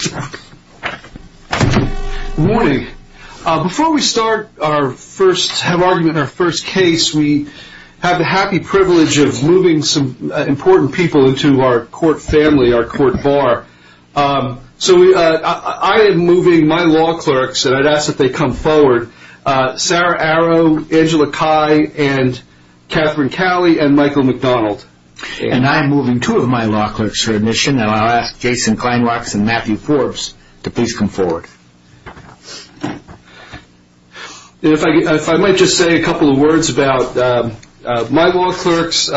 Good morning. Before we start our first argument, our first case, we have the happy privilege of moving some important people into our court family, our court bar. So I am moving my law clerks, and I'd ask that they come forward, Sarah Arrow, Angela Cai, and Katherine Calley, and Michael McDonald. And I'm moving two of my law clerks for admission, and I'll ask Jason Kleinrocks and Matthew Forbes to please come forward. Jason Kleinrocks If I might just say a couple of words about my law clerks.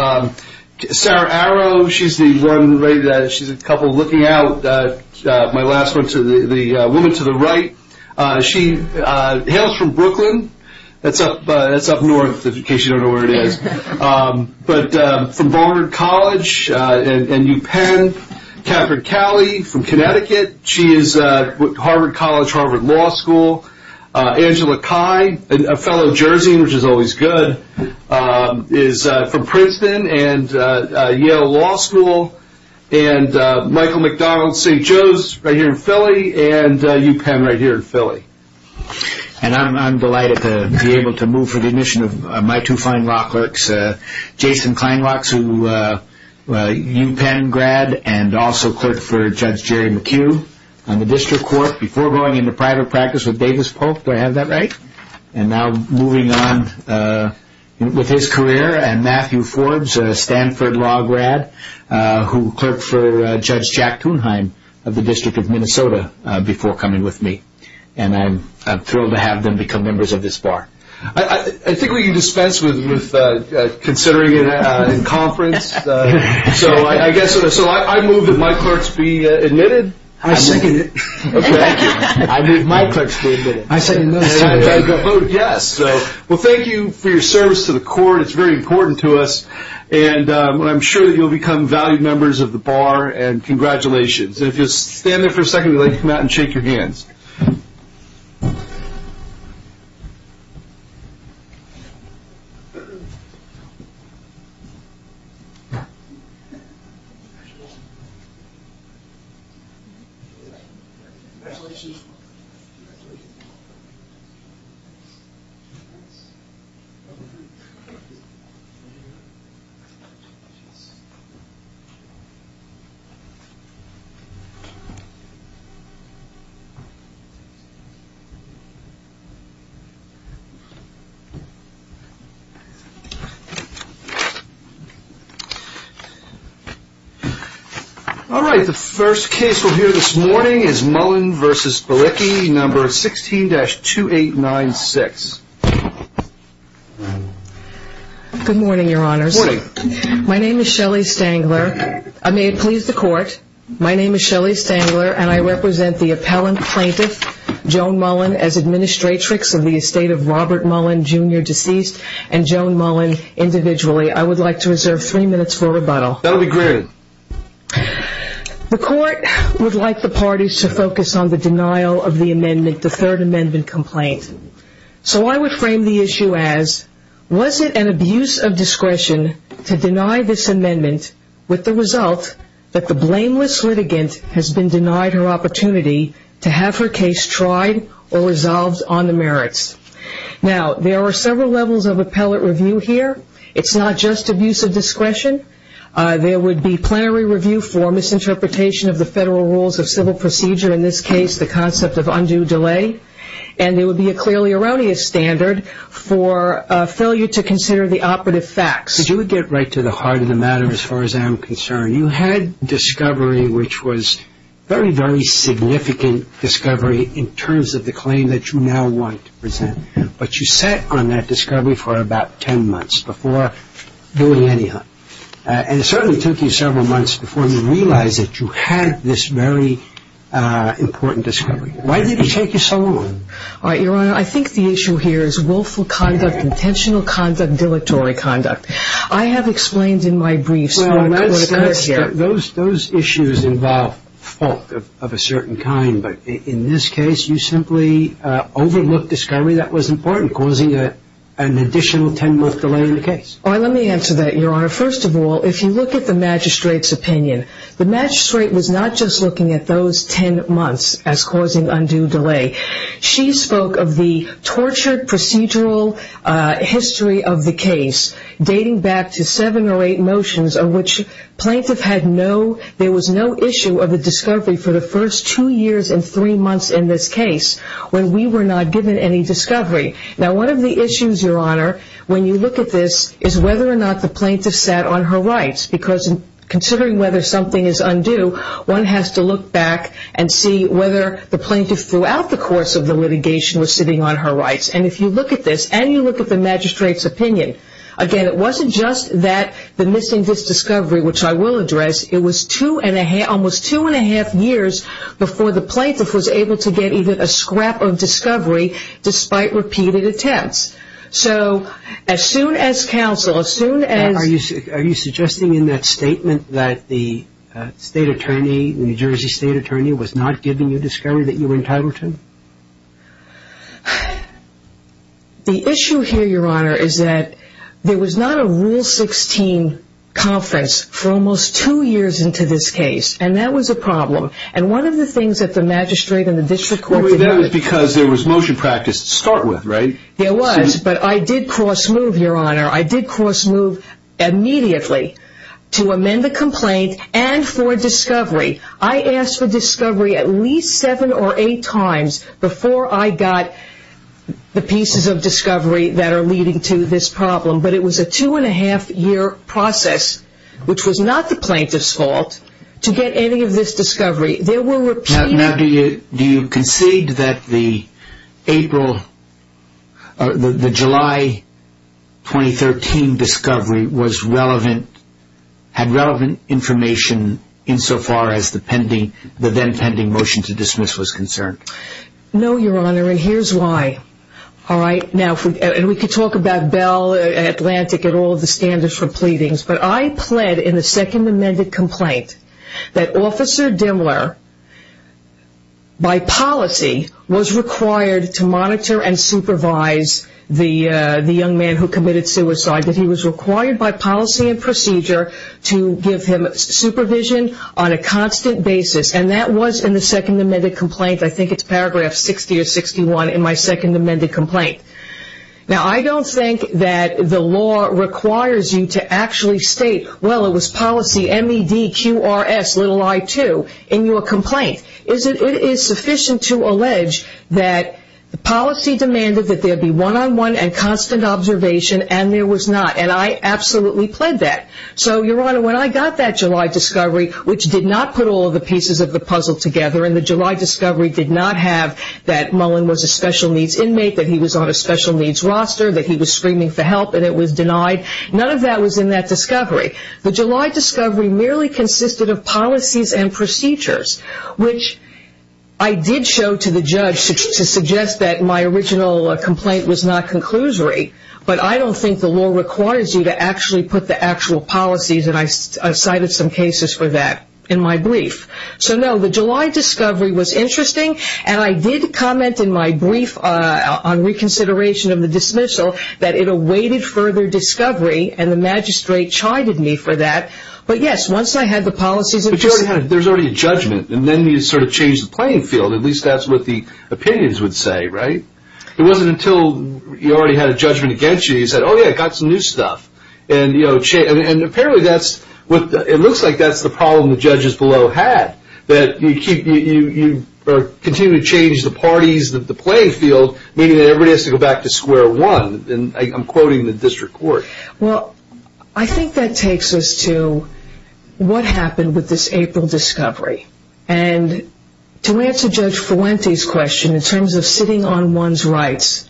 Sarah Arrow, she's the one, she's a couple looking out, my last one, the woman to the right. She hails from Brooklyn, that's up north in case you don't know where it is. But from Ballard College and UPenn, Katherine Calley from Connecticut, she is Harvard College, Harvard Law School. Angela Cai, a fellow Jerseyan, which is always good, is from Princeton and Yale Law School. And Michael McDonald, St. Joe's, right here in Philly, and UPenn right here in Philly. And I'm delighted to be able to move for the admission of my two fine law clerks, Jason Kleinrocks, a UPenn grad, and also clerked for Judge Jerry McHugh on the district court before going into private practice with Davis Polk, do I have that right? And now moving on with his career, and Matthew Forbes, a Stanford Law grad, who clerked for Judge Jack Kuhnheim of the District of Minnesota before coming with me. And I'm thrilled to have them become members of this bar. I think we can dispense with considering it in conference. So I move that my clerks be admitted. I second it. Okay, thank you. I move my clerks be admitted. I second that. I vote yes. Well, thank you for your service to the court, it's very important to us. And I'm sure you'll become valued members of the bar, and congratulations. If you'll stand there for a second, we'd like you to come out and shake your hands. All right, the first case we'll hear this morning is Mullen v. Borecki, number 16-2896. Good morning, your honors. Good morning. My name is Shelley Stangler. May it please the court, my name is Shelley Stangler, and I represent the appellant plaintiff, Joan Mullen, as administratrix of the estate of Robert Mullen, Jr., deceased, and Joan Mullen individually. I would like to reserve three minutes for rebuttal. That'll be great. The court would like the parties to focus on the denial of the amendment, the third So I would frame the issue as, was it an abuse of discretion to deny this amendment with the result that the blameless litigant has been denied her opportunity to have her case tried or resolved on the merits? Now, there are several levels of appellate review here. It's not just abuse of discretion. There would be plenary review for misinterpretation of the federal rules of civil procedure, in this case the concept of undue delay, and there would be a clearly erroneous standard for failure to consider the operative facts. But you would get right to the heart of the matter as far as I'm concerned. You had discovery which was very, very significant discovery in terms of the claim that you now want to present, but you sat on that discovery for about ten months before doing any of it. And it certainly took you several months before you realized that you had this very important discovery. Why did it take you so long? All right, Your Honor, I think the issue here is willful conduct, intentional conduct, dilatory conduct. I have explained in my briefs what occurred here. Well, those issues involve fault of a certain kind, but in this case you simply overlooked discovery that was important, causing an additional ten-month delay in the case. All right, let me answer that, Your Honor. First of all, if you look at the magistrate's as causing undue delay. She spoke of the tortured procedural history of the case dating back to seven or eight motions of which plaintiff had no, there was no issue of a discovery for the first two years and three months in this case when we were not given any discovery. Now, one of the issues, Your Honor, when you look at this is whether or not the plaintiff sat on her rights, because considering whether something is undue, one has to look back and see whether the plaintiff throughout the course of the litigation was sitting on her rights. And if you look at this and you look at the magistrate's opinion, again, it wasn't just that the missing discovery, which I will address, it was two and a half, almost two and a half years before the plaintiff was able to get even a scrap of discovery despite repeated attempts. So as soon as counsel, as soon as. Are you suggesting in that statement that the state attorney, the New Jersey state attorney was not giving you discovery that you were entitled to? The issue here, Your Honor, is that there was not a Rule 16 conference for almost two years into this case, and that was a problem. And one of the things that the magistrate and the district court did. That was because there was motion practice to start with, right? There was, but I did cross move, Your Honor. I did cross move immediately to amend the complaint and for discovery. I asked for discovery at least seven or eight times before I got the pieces of discovery that are leading to this problem. But it was a two and a half year process, which was not the plaintiff's fault, to get any of this discovery. Now, do you concede that the April, the July 2013 discovery was relevant, had relevant information insofar as the pending, the then pending motion to dismiss was concerned? No, Your Honor, and here's why. All right. Now, and we could talk about Bell, Atlantic, and all of the standards for pleadings, but I pled in the second amended complaint that Officer Dimler, by policy, was required to monitor and supervise the young man who committed suicide, that he was required by policy and procedure to give him supervision on a constant basis, and that was in the second amended complaint. I think it's paragraph 60 or 61 in my second amended complaint. Now, I don't think that the law requires you to actually state, well, it was policy, M-E-D-Q-R-S, little I-2, in your complaint. It is sufficient to allege that the policy demanded that there be one-on-one and constant observation, and there was not, and I absolutely pled that. So, Your Honor, when I got that July discovery, which did not put all of the pieces of the puzzle together, and the July discovery did not have that Mullen was a special needs inmate, that he was on a special needs roster, that he was screaming for help, and it was denied, none of that was in that discovery. The July discovery merely consisted of policies and procedures, which I did show to the judge to suggest that my original complaint was not conclusory, but I don't think the law requires you to actually put the actual policies, and I cited some cases for that in my brief. So, no, the July discovery was interesting, and I did comment in my brief on reconsideration of the dismissal, that it awaited further discovery, and the magistrate chided me for that, but yes, once I had the policies... But, Your Honor, there's already a judgment, and then you sort of change the playing field, at least that's what the opinions would say, right? It wasn't until you already had a judgment against you, you said, oh yeah, I got some new stuff, and you know, and apparently that's what, it looks like that's the problem the judges below had, that you keep, you continue to change the parties of the playing field, meaning that everybody has to go back to square one, and I'm quoting the district court. Well, I think that takes us to what happened with this April discovery, and to answer Judge Fuente's question, in terms of sitting on one's rights,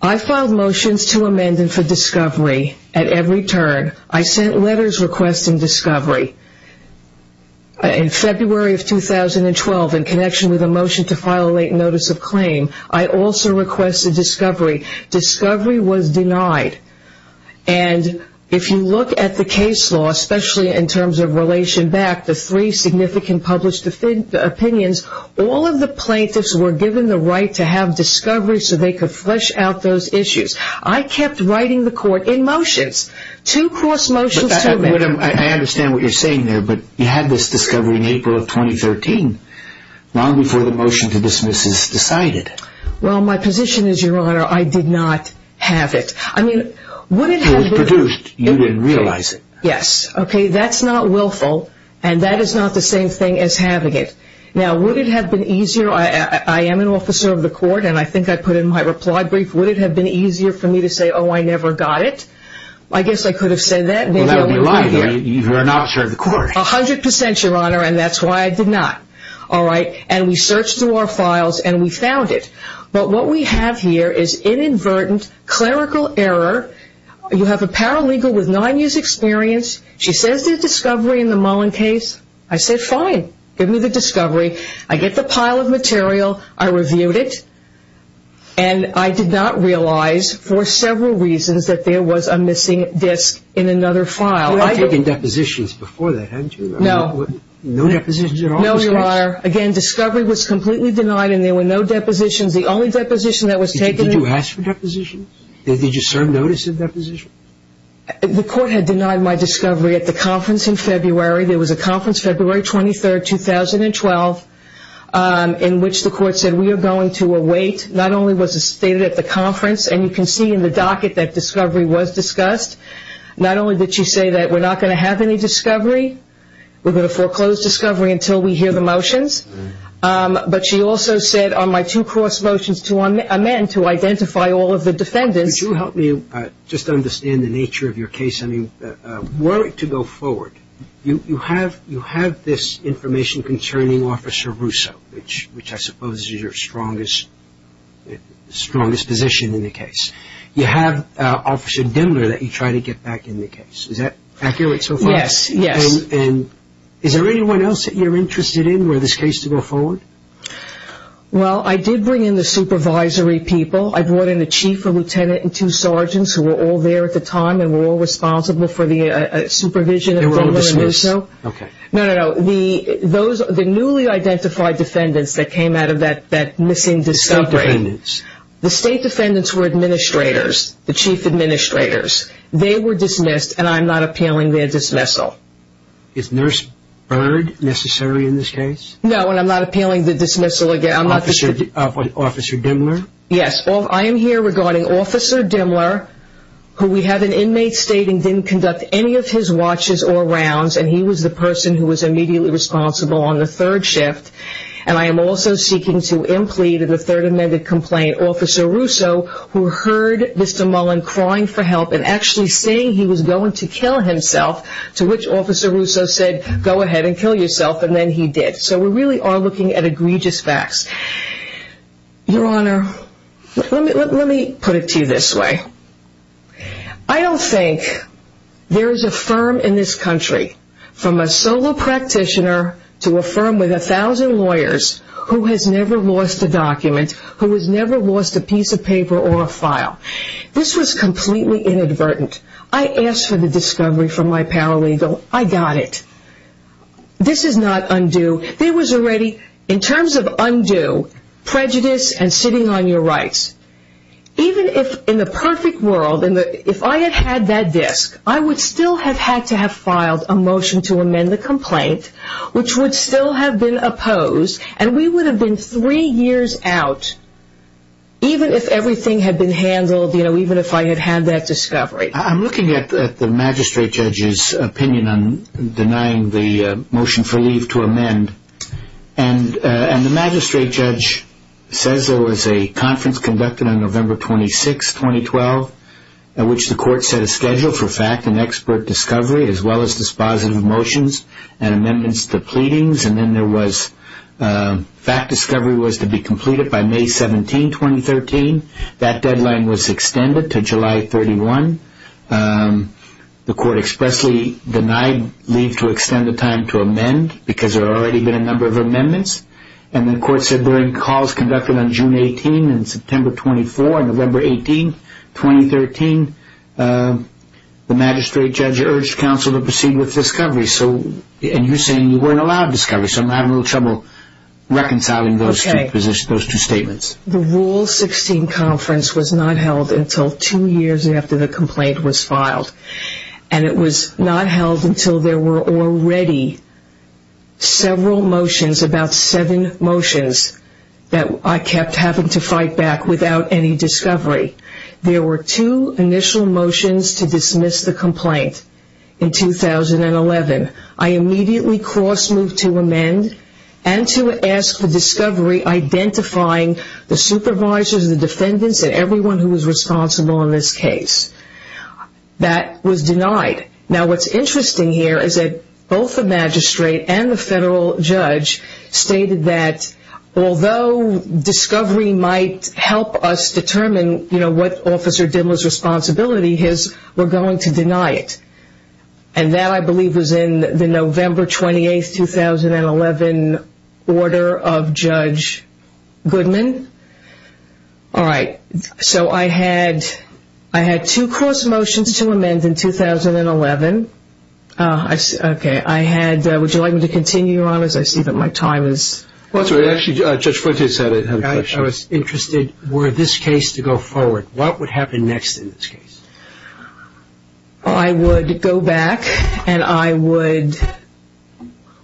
I filed motions to amend them for discovery at every turn. I sent letters requesting discovery in February of 2012, in connection with a motion to file a late notice of claim. I also requested discovery. Discovery was denied, and if you look at the case law, especially in terms of relation back, the three significant published opinions, all of the plaintiffs were given the right to have discovery so they could flesh out those issues. I kept writing the court in motions, two cross motions to amend... I understand what you're saying there, but you had this discovery in April of 2013, long before the motion to dismiss was decided. Well, my position is, Your Honor, I did not have it. It was produced, you didn't realize it. Yes, okay, that's not willful, and that is not the same thing as having it. Now, would it have been easier, I am an officer of the court, and I think I put in my reply brief, would it have been easier for me to say, oh, I never got it? I guess I could have said that. Well, that would be lying. You're an officer of the court. A hundred percent, Your Honor, and that's why I did not. All right, and we searched through our files, and we found it, but what we have here is inadvertent clerical error. You have a paralegal with nine years' experience. She says there's discovery in the Mullen case. I said, fine, give me the discovery. I get the pile of material. I reviewed it, and I did not realize, for several reasons, that there was a missing disk in another file. You had taken depositions before that, hadn't you? No. No depositions at all? No, Your Honor. Again, discovery was completely denied, and there were no depositions. The only deposition that was taken... Did you ask for depositions? Did you serve notice of depositions? The court had denied my discovery at the conference in February. There was a conference February 23, 2012, in which the court said, we are going to await, not only was it stated at the conference, and you can see in the docket that discovery was discussed, not only did she say that we're not going to have any discovery, we're going to foreclose discovery until we hear the motions, but she also said on my two cross motions to amend to identify all of the defendants... Could you help me just understand the nature of your case? I mean, were it to go forward, you have this information concerning Officer Russo, which I suppose is your strongest position in the case. You have Officer Dimler that you try to get back in the case. Is that accurate so far? Yes, yes. And is there anyone else that you're interested in were this case to go forward? Well, I did bring in the supervisory people. I brought in a chief, a lieutenant, and two sergeants who were all there at the time and were all responsible for the supervision of Officer Russo. Okay. No, no, no. The newly identified defendants that came out of that missing discovery... State defendants. The state defendants were administrators, the chief administrators. They were dismissed and I'm not appealing their dismissal. Is Nurse Bird necessary in this case? No, and I'm not appealing the dismissal again. I'm not... Officer Dimler? Yes. I am here regarding Officer Dimler, who we have an inmate stating didn't conduct any of his watches or rounds and he was the person who was immediately responsible on the third shift. And I am also seeking to implead in the third amended complaint Officer Russo, who heard Mr. Mullen crying for help and actually saying he was going to kill himself, to which Officer Russo said, go ahead and kill yourself, and then he did. So we really are looking at egregious facts. Your Honor, let me put it to you this way. I don't think there is a firm in this country, from a solo practitioner to a firm with a thousand lawyers, who has never lost a document, who has never lost a piece of paper or a file. This was completely inadvertent. I asked for the discovery from my paralegal. I got it. This is not undue. There was already, in terms of undue, prejudice and sitting on your rights. Even if, in the perfect world, if I had had that disk, I would still have had to have filed a motion to amend the complaint, which would still have been opposed, and we would have been three years out, even if everything had been handled, even if I had had that discovery. I'm looking at the magistrate judge's opinion on denying the motion for leave to amend, and the magistrate judge says there was a conference conducted on November 26, 2012, at which the court set a schedule for fact and expert discovery, as well as dispositive motions and amendments to pleadings, and then there was, fact discovery was to be completed by May 17, 2013. That deadline was extended to July 31. The court expressly denied leave to extend the time to amend, because there had already been a number of amendments, and the court said during calls conducted on June 18 and September 24 and November 18, 2013, the magistrate judge urged counsel to proceed with discovery, and you're saying you weren't reconciling those two statements. The Rule 16 conference was not held until two years after the complaint was filed, and it was not held until there were already several motions, about seven motions, that I kept having to fight back without any discovery. There were two initial motions to dismiss the complaint in 2011. I immediately cross-moved to amend, and to ask for discovery identifying the supervisors, the defendants, and everyone who was responsible in this case. That was denied. Now, what's interesting here is that both the magistrate and the federal judge stated that although discovery might help us determine, you know, what Officer Dimmel's responsibility is, we're going to deny it. And that, I believe, was in the November 28, 2011, order of Judge Goodman. All right. So I had two cross-motions to amend in 2011. Would you like me to continue, Your Honors? I see that my time is up. Actually, Judge Fuentes had a question. I was interested, were this case to go forward, what would happen next in this case? I would go back, and I would,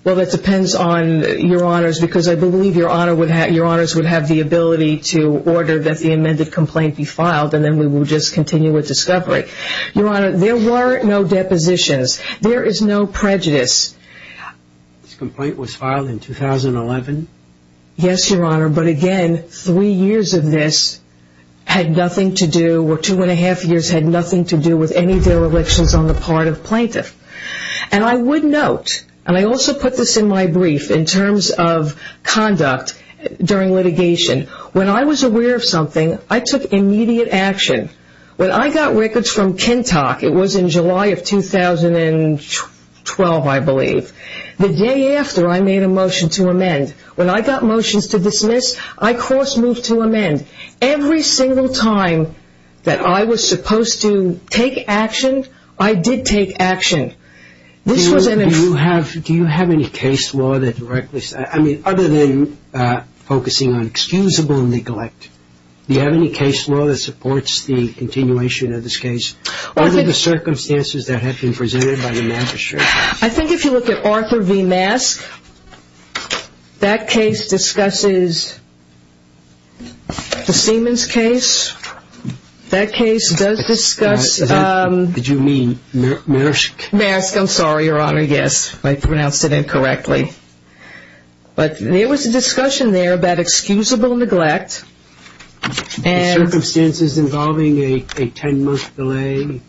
well, that depends on Your Honors, because I believe Your Honors would have the ability to order that the amended complaint be filed, and then we would just continue with discovery. Your Honor, there were no depositions. There is no prejudice. This complaint was filed in 2011? Yes, Your Honor, but again, three years of this had nothing to do, or two and a half years had nothing to do with any of their elections on the part of plaintiff. And I would note, and I also put this in my brief, in terms of conduct during litigation, when I was aware of something, I took immediate action. When I got records from KENTOC, it was in July of 2012, I believe, the day after I made a motion to amend. When I got motions to dismiss, I cross-moved to amend. Every single time that I was supposed to take action, I did take action. Do you have any case law that directly, I mean, other than focusing on excusable neglect, do you have any case law that supports the continuation of this case, under the circumstances that have been presented by the Memphis Sheriff's Office? I think if you look at Arthur V. Mask, that case discusses the Siemens case. That case does discuss Did you mean Mask? Mask, I'm sorry, Your Honor, yes. I pronounced it incorrectly. But there was a discussion there about excusable neglect. Circumstances involving a ten-month delay?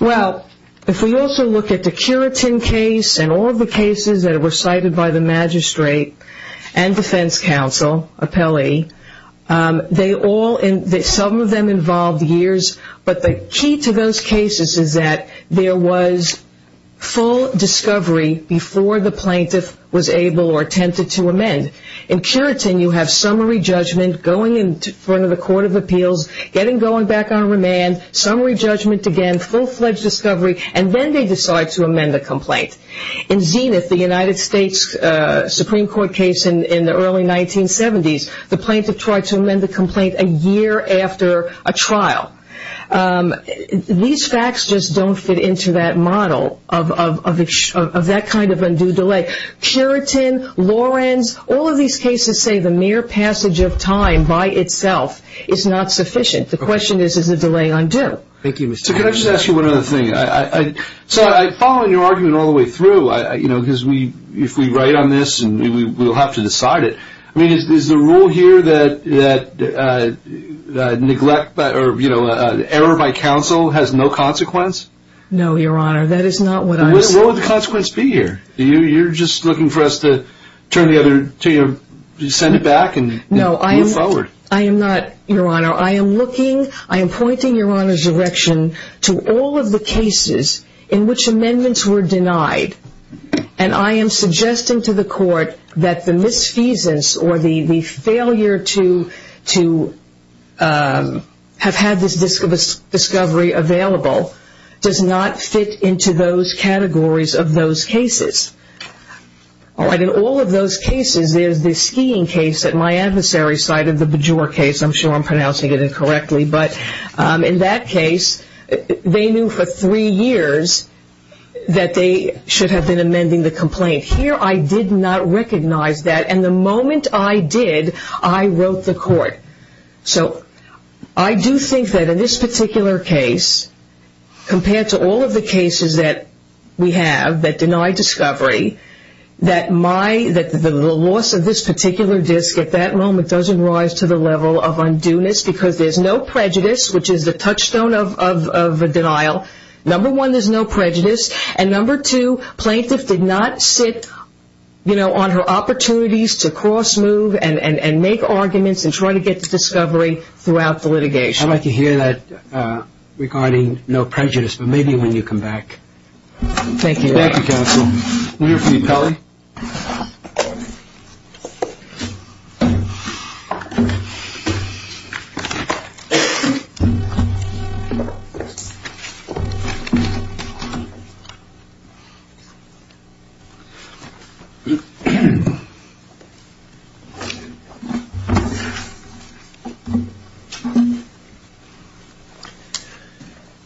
Well, if we also look at the Curitin case and all of the cases that were cited by the magistrate and defense counsel, appellee, they all, some of them involved years, but the key to those cases is that there was full discovery before the plaintiff was able or attempted to amend. In Curitin, you have summary judgment going in front of the Court of Appeals, getting going back on remand, summary judgment again, full-fledged discovery, and then they decide to amend the complaint. In Zenith, the United States Supreme Court case in the early 1970s, the plaintiff tried to amend the complaint a year after a trial. These facts just don't fit into that model of that kind of undue delay. Curitin, Lorenz, all of these cases say the mere passage of time by itself is not sufficient. The question is, is the delay undue? Thank you, Mr. Harris. So can I just ask you one other thing? So following your argument all the way through, because if we write on this, we'll have to decide it, is the rule here that error by counsel has no consequence? No, Your Honor, that is not what I'm saying. What would the consequence be here? You're just looking for us to send it back and move forward. No, I am not, Your Honor. I am pointing Your Honor's direction to all of the cases in which amendments were denied, and I am suggesting to the court that the misfeasance or the failure to have had this discovery available does not fit into those categories of those cases. In all of those cases, there's the skiing case at my adversary's side of the Bajor case. I'm sure I'm pronouncing it incorrectly. But in that case, they knew for three years that they should have been amending the complaint. Here I did not recognize that, and the moment I did, I wrote the court. So I do think that in this particular case, compared to all of the cases that we have that deny discovery, that the loss of this particular disk at that moment doesn't rise to the level of undueness because there's no prejudice, which is the touchstone of denial. Number one, there's no prejudice. And number two, plaintiff did not sit on her opportunities to cross-move and make arguments and try to get to discovery throughout the litigation. I'd like to hear that regarding no prejudice, but maybe when you come back. Thank you, Your Honor. Thank you, counsel. We have the appellee. Good morning.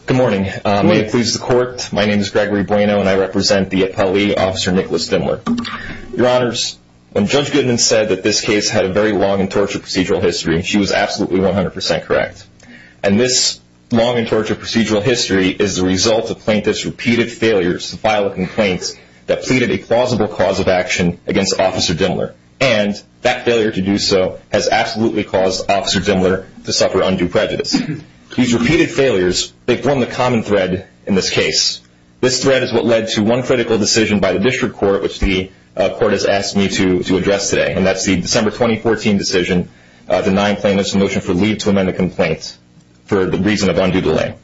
Good morning. My name is Gregory Bueno, and I represent the appellee, Officer Nicholas Dimmler. Your Honors, when Judge Goodman said that this case had a very long and tortured procedural history, she was absolutely 100% correct. And this long and tortured procedural history is the result of plaintiffs' repeated failures to file a complaint that pleaded a plausible cause of action against Officer Dimmler. And that failure to do so has absolutely caused Officer Dimmler to suffer undue prejudice. These repeated failures, they form the common thread in this case. This thread is what led to one critical decision by the district court, which the court has asked me to address today, and that's the December 2014 decision denying plaintiffs a motion for leave to amend a complaint for the reason of undue delay.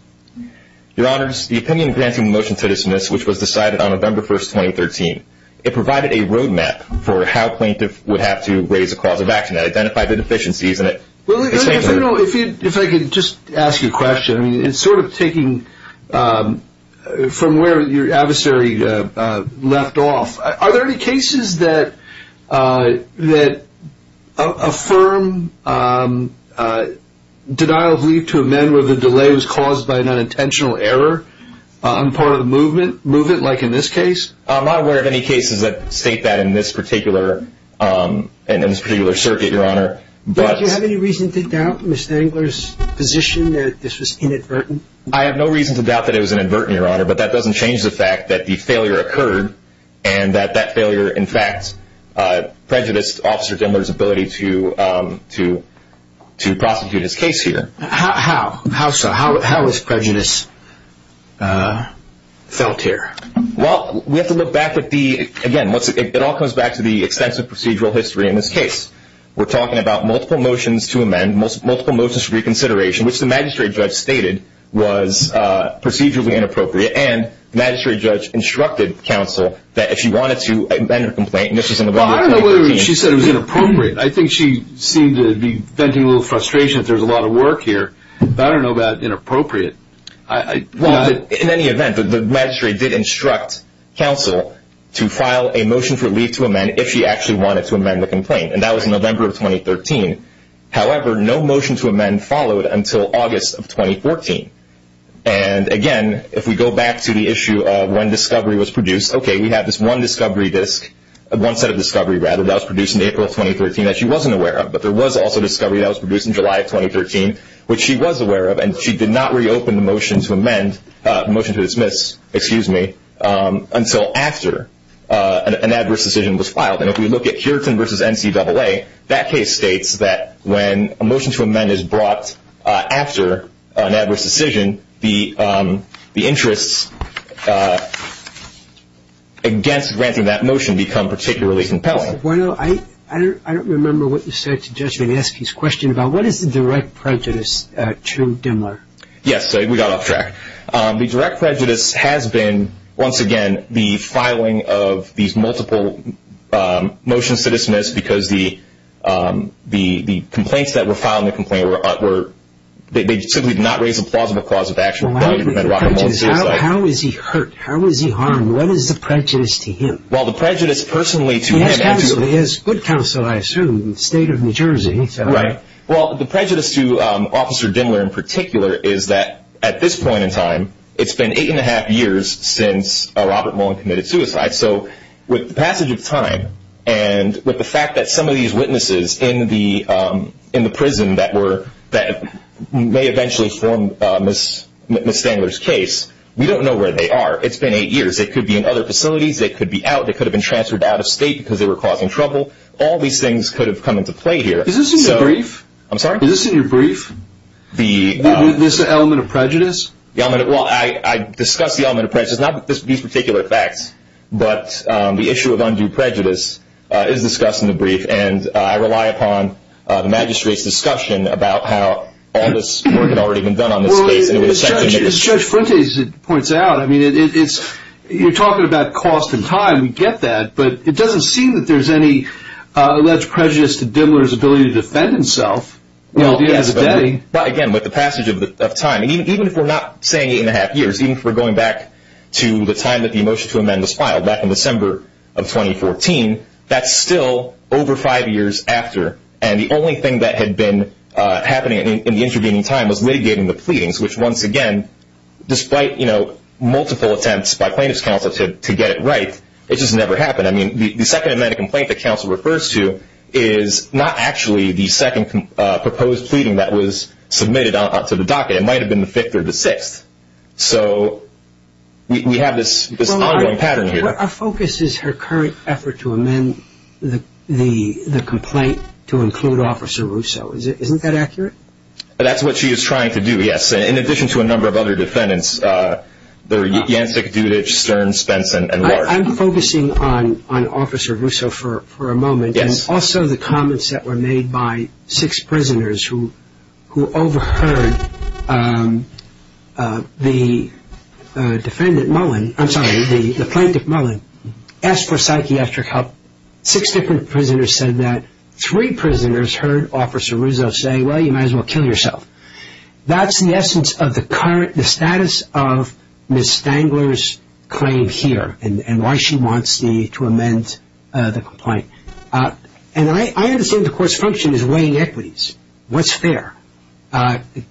Your Honors, the opinion granted in the motion today is this, which was decided on November 1, 2013. It provided a roadmap for how plaintiffs would have to raise a cause of action. It identified the deficiencies in it. If I could just ask you a question, and sort of taking from where your adversary left off, are there any cases that affirm denial of leave to amend where the delay was caused by an unintentional error on part of the movement, like in this case? I'm not aware of any cases that state that in this particular circuit, Your Honor. Do you have any reason to doubt Mr. Dimmler's position that this was inadvertent? I have no reason to doubt that it was inadvertent, Your Honor, but that doesn't change the fact that the failure occurred, and that that failure, in fact, prejudiced Officer Dimmler's ability to prosecute his case here. How so? How was prejudice felt here? Well, we have to look back at the, again, it all comes back to the extensive procedural history in this case. We're talking about multiple motions to amend, multiple motions for reconsideration, which the magistrate judge stated was procedurally inappropriate, and the magistrate judge instructed counsel that if she wanted to amend a complaint, and this was in the vote of 2013. Well, I don't know whether she said it was inappropriate. I think she seemed to be venting a little frustration that there's a lot of work here, but I don't know about inappropriate. Well, in any event, the magistrate did instruct counsel to file a motion for leave to amend if she actually wanted to amend the complaint, and that was in November of 2013. However, no motion to amend followed until August of 2014. And, again, if we go back to the issue of when discovery was produced, okay, we have this one set of discovery that was produced in April of 2013 that she wasn't aware of, but there was also discovery that was produced in July of 2013, which she was aware of, and she did not reopen the motion to amend, motion to dismiss, excuse me, until after an adverse decision was filed. And if we look at Hurton v. NCAA, that case states that when a motion to amend is brought after an adverse decision, the interests against granting that motion become particularly compelling. I don't remember what you said to the judge when you asked his question about what is the direct prejudice to Dimmler? Yes, we got off track. The direct prejudice has been, once again, the filing of these multiple motions to dismiss because the complaints that were filed in the complaint were they simply did not raise a plausible cause of action. How is he hurt? How is he harmed? What is the prejudice to him? Well, the prejudice personally to him is He has good counsel, I assume, state of New Jersey. Right. Well, the prejudice to Officer Dimmler in particular is that at this point in time, it's been eight and a half years since Robert Mullen committed suicide. So with the passage of time and with the fact that some of these witnesses in the prison that may eventually form Ms. Stangler's case, we don't know where they are. It's been eight years. They could be in other facilities. They could be out. They could have been transferred out of state because they were causing trouble. All these things could have come into play here. Is this in your brief? I'm sorry? Is this in your brief? This element of prejudice? Well, I discuss the element of prejudice, not these particular facts, but the issue of undue prejudice is discussed in the brief, and I rely upon the magistrate's discussion about how all this work had already been done on this case. As Judge Fuentes points out, you're talking about cost and time, we get that, but it doesn't seem that there's any alleged prejudice to Dimmler's ability to defend himself. Again, with the passage of time, even if we're not saying eight and a half years, even if we're going back to the time that the motion to amend was filed back in December of 2014, that's still over five years after, and the only thing that had been happening in the intervening time was litigating the pleadings, which once again, despite multiple attempts by plaintiff's counsel to get it right, it just never happened. I mean, the second amendment complaint that counsel refers to is not actually the second proposed pleading that was submitted out to the docket. It might have been the fifth or the sixth, so we have this ongoing pattern here. Our focus is her current effort to amend the complaint to include Officer Russo. Isn't that accurate? That's what she is trying to do, yes, in addition to a number of other defendants. They're Jancic, Dudich, Stern, Spence, and Larson. I'm focusing on Officer Russo for a moment, and also the comments that were made by six prisoners who overheard the defendant Mullen, I'm sorry, the plaintiff Mullen, ask for psychiatric help. Six different prisoners said that. Three prisoners heard Officer Russo say, well, you might as well kill yourself. That's the essence of the status of Ms. Stangler's claim here and why she wants to amend the complaint. And I understand the court's function is weighing equities. What's fair?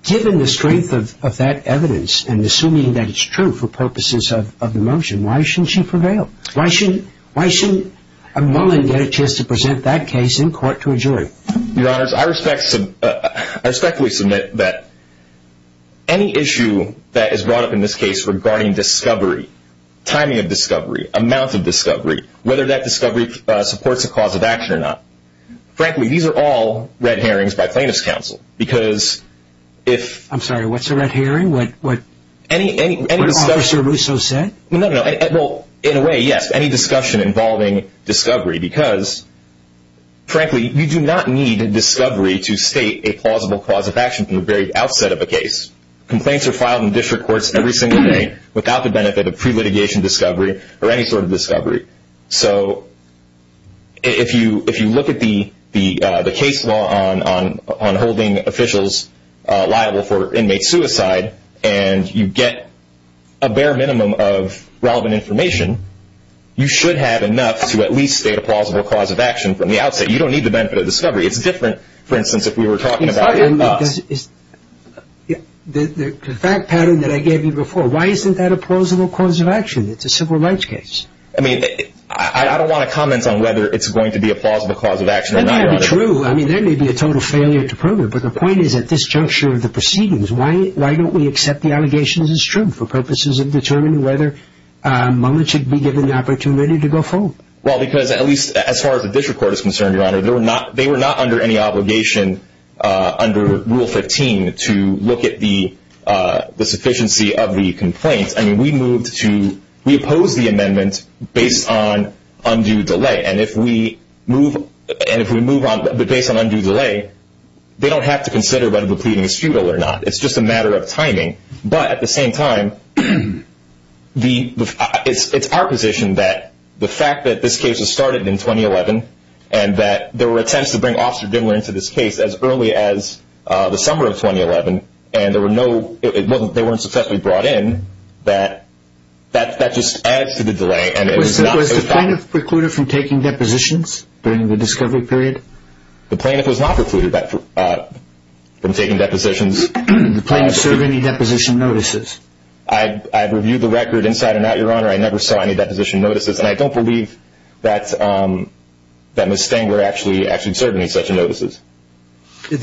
Given the strength of that evidence and assuming that it's true for purposes of the motion, why shouldn't she prevail? Why shouldn't Mullen get a chance to present that case in court to a jury? Your Honors, I respectfully submit that any issue that is brought up in this case regarding discovery, timing of discovery, amount of discovery, whether that discovery supports a cause of action or not, frankly, these are all red herrings by plaintiff's counsel. I'm sorry, what's a red herring? What Officer Russo said? In a way, yes, any discussion involving discovery because, frankly, you do not need discovery to state a plausible cause of action from the very outset of a case. Complaints are filed in district courts every single day without the benefit of pre-litigation discovery or any sort of discovery. So if you look at the case law on holding officials liable for inmate suicide and you get a bare minimum of relevant information, you should have enough to at least state a plausible cause of action from the outset. You don't need the benefit of discovery. It's different, for instance, if we were talking about the en masse. The fact pattern that I gave you before, why isn't that a plausible cause of action? It's a civil rights case. I mean, I don't want to comment on whether it's going to be a plausible cause of action or not, Your Honor. That may be true. I mean, there may be a total failure to prove it, but the point is at this juncture of the proceedings, why don't we accept the allegations as true for purposes of determining whether Mullen should be given the opportunity to go forward? Well, because at least as far as the district court is concerned, Your Honor, they were not under any obligation under Rule 15 to look at the sufficiency of the complaints. I mean, we opposed the amendment based on undue delay. And if we move on based on undue delay, they don't have to consider whether the pleading is futile or not. It's just a matter of timing. But at the same time, it's our position that the fact that this case was started in 2011 and that there were attempts to bring Oster Dimler into this case as early as the summer of 2011 and they weren't successfully brought in, that that just adds to the delay. Was the plaintiff precluded from taking depositions during the discovery period? The plaintiff was not precluded from taking depositions. Did the plaintiff serve any deposition notices? I've reviewed the record inside and out, Your Honor. I never saw any deposition notices. And I don't believe that Ms. Stenger actually served any such notices. I was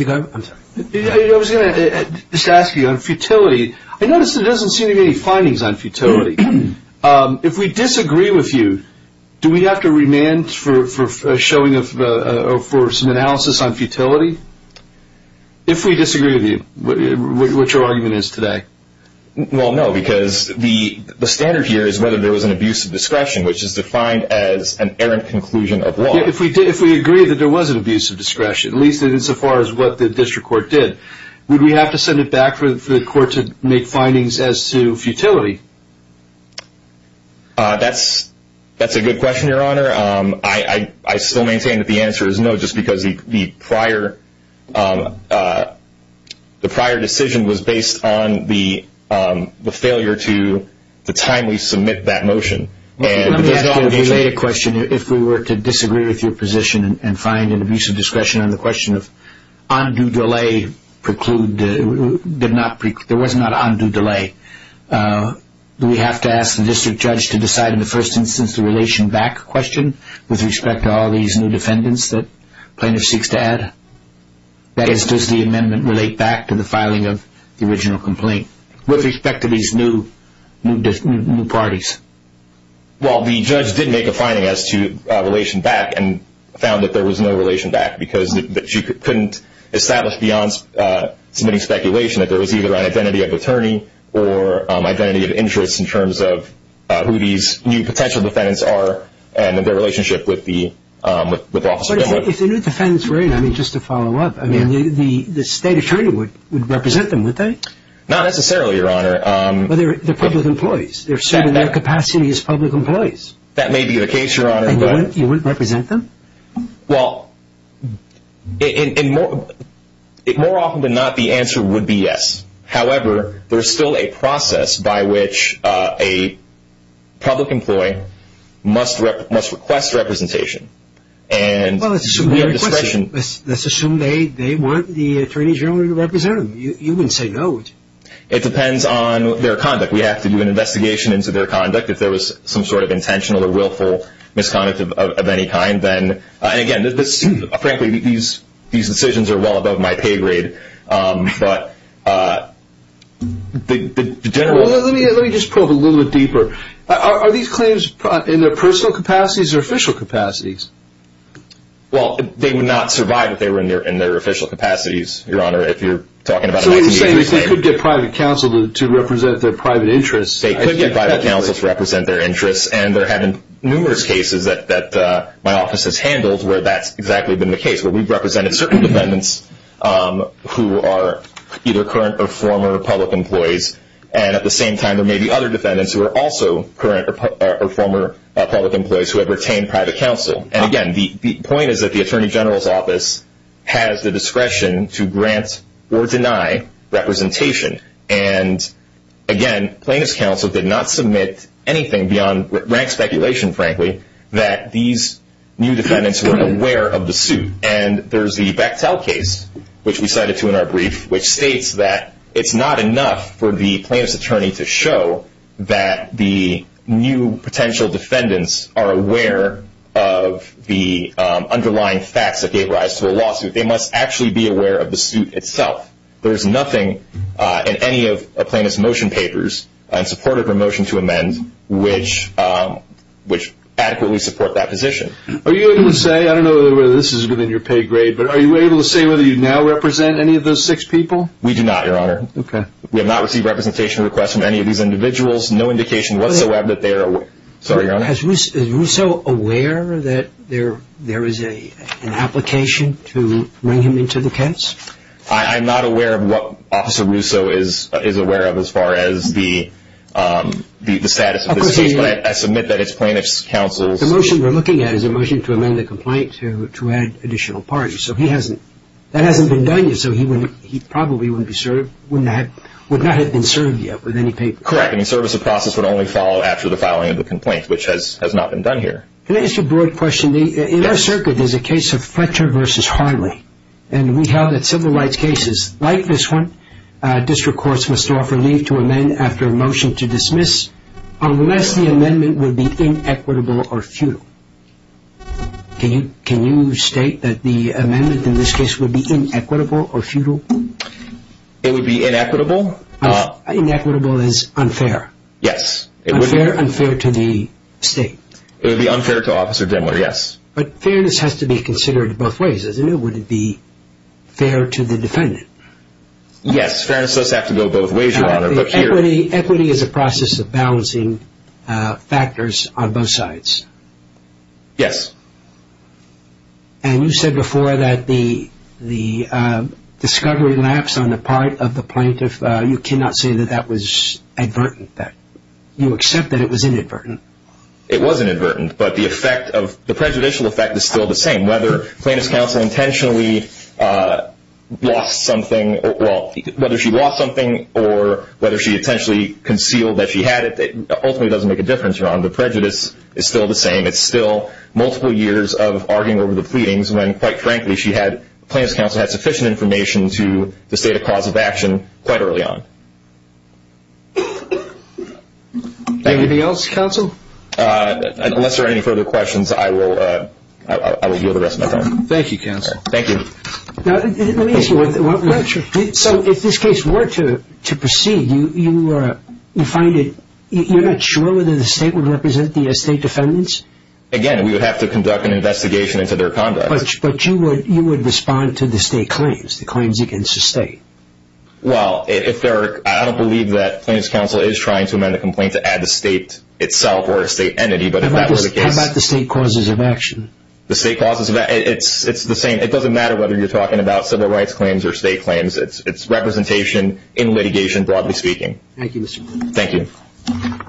going to just ask you on futility. I noticed there doesn't seem to be any findings on futility. If we disagree with you, do we have to remand for showing or for some analysis on futility? If we disagree with you, what your argument is today? Well, no, because the standard here is whether there was an abuse of discretion, which is defined as an errant conclusion of law. If we agree that there was an abuse of discretion, at least insofar as what the district court did, would we have to send it back for the court to make findings as to futility? That's a good question, Your Honor. I still maintain that the answer is no, just because the prior decision was based on the failure to timely submit that motion. Let me ask you a related question. If we were to disagree with your position and find an abuse of discretion on the question of undue delay, there was not undue delay, do we have to ask the district judge to decide in the first instance the relation back question with respect to all these new defendants that plaintiff seeks to add? That is, does the amendment relate back to the filing of the original complaint with respect to these new parties? Well, the judge did make a finding as to relation back and found that there was no relation back because you couldn't establish beyond submitting speculation that there was either an identity of attorney or identity of interest in terms of who these new potential defendants are and their relationship with the officer. If the new defendants were in, just to follow up, the state attorney would represent them, wouldn't they? Not necessarily, Your Honor. They're public employees. They're serving their capacity as public employees. That may be the case, Your Honor. You wouldn't represent them? Well, more often than not, the answer would be yes. However, there's still a process by which a public employee must request representation. Let's assume they want the attorney general to represent them. You wouldn't say no. It depends on their conduct. We have to do an investigation into their conduct. If there was some sort of intentional or willful misconduct of any kind, then, and again, frankly, these decisions are well above my pay grade, but the general. Let me just probe a little bit deeper. Are these claims in their personal capacities or official capacities? Well, they would not survive if they were in their official capacities, Your Honor, if you're talking about a 1983 claim. So what you're saying is they could get private counsel to represent their private interests. They could get private counsel to represent their interests, and there have been numerous cases that my office has handled where that's exactly been the case, where we've represented certain defendants who are either current or former public employees, and at the same time there may be other defendants who are also current or former public employees who have retained private counsel. And, again, the point is that the attorney general's office has the discretion to grant or deny representation. And, again, plaintiff's counsel did not submit anything beyond rank speculation, frankly, that these new defendants weren't aware of the suit. And there's the Bechtel case, which we cited too in our brief, which states that it's not enough for the plaintiff's attorney to show that the new potential defendants are aware of the underlying facts that gave rise to a lawsuit. They must actually be aware of the suit itself. There's nothing in any of a plaintiff's motion papers in support of her motion to amend which adequately support that position. Are you able to say, I don't know whether this is within your pay grade, but are you able to say whether you now represent any of those six people? We do not, Your Honor. Okay. We have not received representation requests from any of these individuals. No indication whatsoever that they are aware. Sorry, Your Honor. Is Russo aware that there is an application to bring him into the case? I'm not aware of what Officer Russo is aware of as far as the status of this case. But I submit that it's plaintiff's counsel's. The motion we're looking at is a motion to amend the complaint to add additional parties. So that hasn't been done yet. So he probably would not have been served yet with any papers. Correct. And the service of process would only follow after the filing of the complaint, which has not been done here. Can I ask you a broad question? In our circuit, there's a case of Fletcher v. Harley. And we held that civil rights cases like this one, district courts must offer leave to amend after a motion to dismiss unless the amendment would be inequitable or futile. Can you state that the amendment in this case would be inequitable or futile? It would be inequitable. Inequitable is unfair. Yes. Unfair to the state. It would be unfair to Officer Dimler, yes. But fairness has to be considered both ways, doesn't it? Would it be fair to the defendant? Yes. Fairness does have to go both ways, Your Honor. Equity is a process of balancing factors on both sides. Yes. And you said before that the discovery lapse on the part of the plaintiff, you cannot say that that was advertent. You accept that it was inadvertent. It was inadvertent, but the effect of the prejudicial effect is still the same. Whether plaintiff's counsel intentionally lost something or whether she lost something or whether she intentionally concealed that she had it ultimately doesn't make a difference, Your Honor. The prejudice is still the same. It's still multiple years of arguing over the pleadings when, quite frankly, plaintiff's counsel had sufficient information to state a cause of action quite early on. Anything else, counsel? Unless there are any further questions, I will yield the rest of my time. Thank you, counsel. Thank you. Let me ask you one thing. So if this case were to proceed, you're not sure whether the state would represent the state defendants? Again, we would have to conduct an investigation into their conduct. But you would respond to the state claims, the claims against the state. Well, I don't believe that plaintiff's counsel is trying to amend a complaint to add the state itself or a state entity, but if that were the case. How about the state causes of action? The state causes of action, it's the same. It doesn't matter whether you're talking about civil rights claims or state claims. It's representation in litigation, broadly speaking. Thank you, Mr. Blumenthal. Thank you.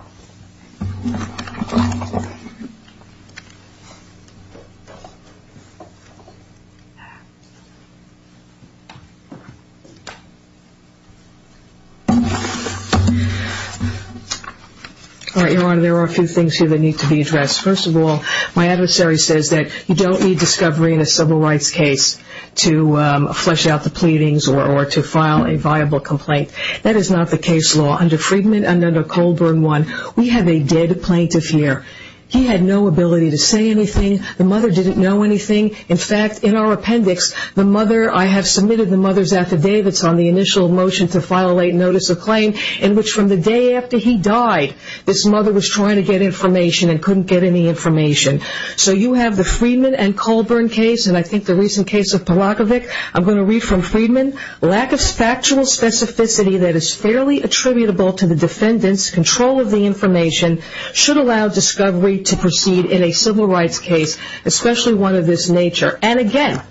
All right, Your Honor, there are a few things here that need to be addressed. First of all, my adversary says that you don't need discovery in a civil rights case to flesh out the pleadings or to file a viable complaint. That is not the case law. Under Friedman and under Colburn I, we have a dead plaintiff here. He had no ability to say anything. The mother didn't know anything. In fact, in our appendix, the mother, I have submitted the mother's affidavits, on the initial motion to file a late notice of claim, in which from the day after he died, this mother was trying to get information and couldn't get any information. So you have the Friedman and Colburn case, and I think the recent case of Palakovic. I'm going to read from Friedman. Lack of factual specificity that is fairly attributable to the defendant's control of the information should allow discovery to proceed in a civil rights case, especially one of this nature. And again,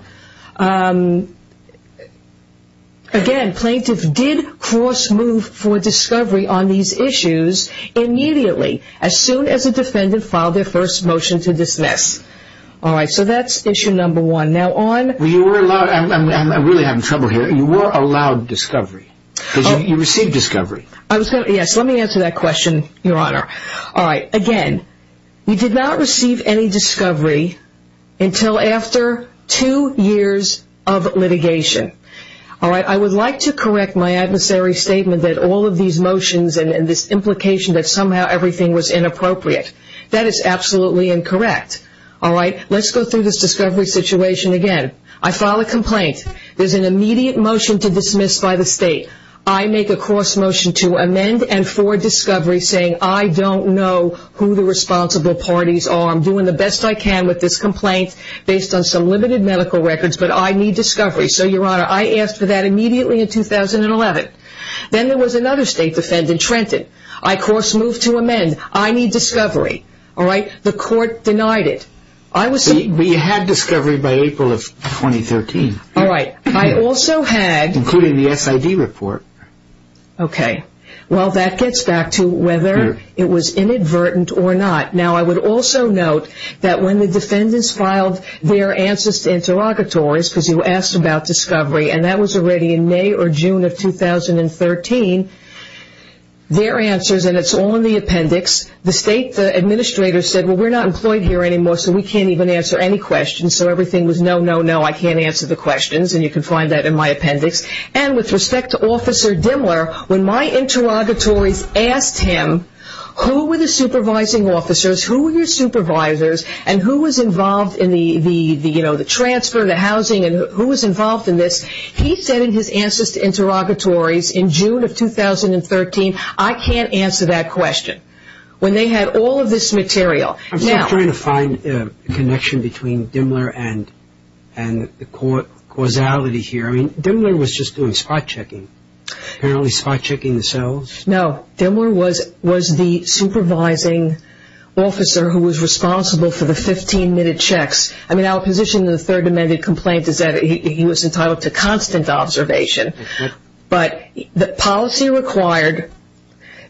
again, plaintiff did cross move for discovery on these issues immediately, as soon as the defendant filed their first motion to dismiss. All right, so that's issue number one. Now on... You were allowed, I'm really having trouble here, you were allowed discovery. You received discovery. Yes, let me answer that question, Your Honor. All right, again, you did not receive any discovery until after two years of litigation. All right, I would like to correct my adversary's statement that all of these motions and this implication that somehow everything was inappropriate. That is absolutely incorrect. All right, let's go through this discovery situation again. I file a complaint. There's an immediate motion to dismiss by the state. I make a cross motion to amend and for discovery saying, I don't know who the responsible parties are. I'm doing the best I can with this complaint based on some limited medical records, but I need discovery. So, Your Honor, I asked for that immediately in 2011. Then there was another state defendant, Trenton. I cross moved to amend. I need discovery. All right, the court denied it. I was... But you had discovery by April of 2013. All right, I also had... Okay, well, that gets back to whether it was inadvertent or not. Now, I would also note that when the defendants filed their answers to interrogatories, because you asked about discovery, and that was already in May or June of 2013, their answers, and it's all in the appendix, the state administrator said, well, we're not employed here anymore, so we can't even answer any questions. So everything was no, no, no, I can't answer the questions, and you can find that in my appendix. And with respect to Officer Dimmler, when my interrogatories asked him, who were the supervising officers, who were your supervisors, and who was involved in the transfer, the housing, and who was involved in this, he said in his answers to interrogatories in June of 2013, I can't answer that question. When they had all of this material. I'm still trying to find a connection between Dimmler and the causality here. I mean, Dimmler was just doing spot checking, apparently spot checking the cells. No. Dimmler was the supervising officer who was responsible for the 15-minute checks. I mean, our position in the Third Amendment complaint is that he was entitled to constant observation. But the policy required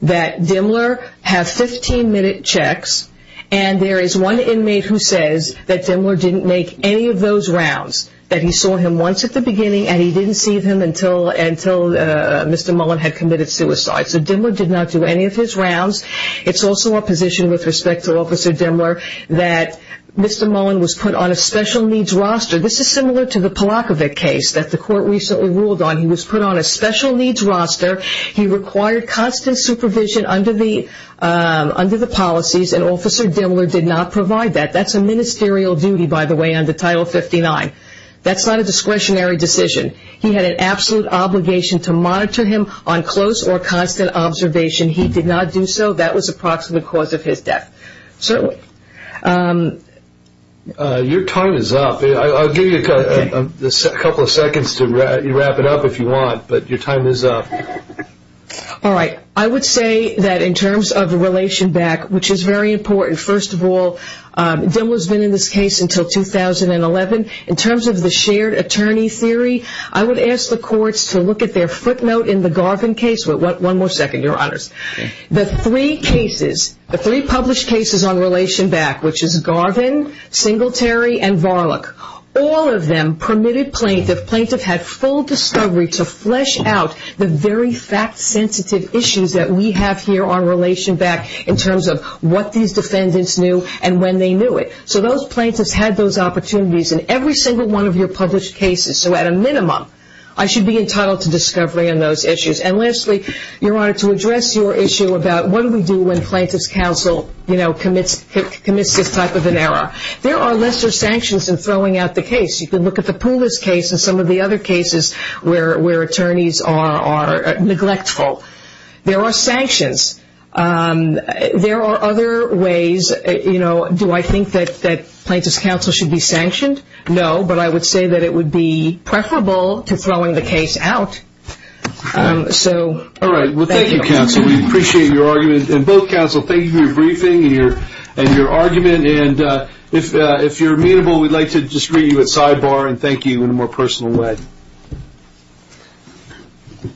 that Dimmler have 15-minute checks, and there is one inmate who says that Dimmler didn't make any of those rounds, that he saw him once at the beginning, and he didn't see him until Mr. Mullen had committed suicide. So Dimmler did not do any of his rounds. It's also our position with respect to Officer Dimmler that Mr. Mullen was put on a special needs roster. This is similar to the Polakovic case that the court recently ruled on. He was put on a special needs roster. He required constant supervision under the policies, and Officer Dimmler did not provide that. That's a ministerial duty, by the way, under Title 59. That's not a discretionary decision. He had an absolute obligation to monitor him on close or constant observation. He did not do so. That was the approximate cause of his death. Certainly. Your time is up. I'll give you a couple of seconds to wrap it up if you want, but your time is up. All right. I would say that in terms of the relation back, which is very important, first of all, Dimmler has been in this case until 2011. In terms of the shared attorney theory, I would ask the courts to look at their footnote in the Garvin case. One more second, Your Honors. The three cases, the three published cases on relation back, which is Garvin, Singletary, and Varlock, all of them permitted plaintiff, if plaintiff had full discovery, to flesh out the very fact-sensitive issues that we have here on relation back in terms of what these defendants knew and when they knew it. So those plaintiffs had those opportunities in every single one of your published cases. So at a minimum, I should be entitled to discovery on those issues. And lastly, Your Honor, to address your issue about what do we do when plaintiff's counsel, you know, commits this type of an error, there are lesser sanctions in throwing out the case. You can look at the Poulos case and some of the other cases where attorneys are neglectful. There are sanctions. There are other ways, you know, do I think that plaintiff's counsel should be sanctioned? No, but I would say that it would be preferable to throwing the case out. All right. Well, thank you, counsel. We appreciate your argument. And both counsel, thank you for your briefing and your argument. And if you're amenable, we'd like to just greet you at sidebar and thank you in a more personal way. Thank you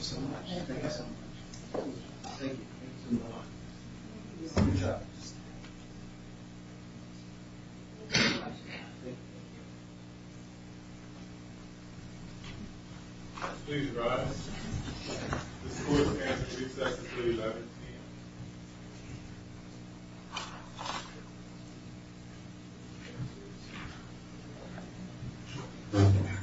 so much. Thank you so much. Thank you. Thank you so much. Good job. Please rise. This court is now in recess until 11 p.m.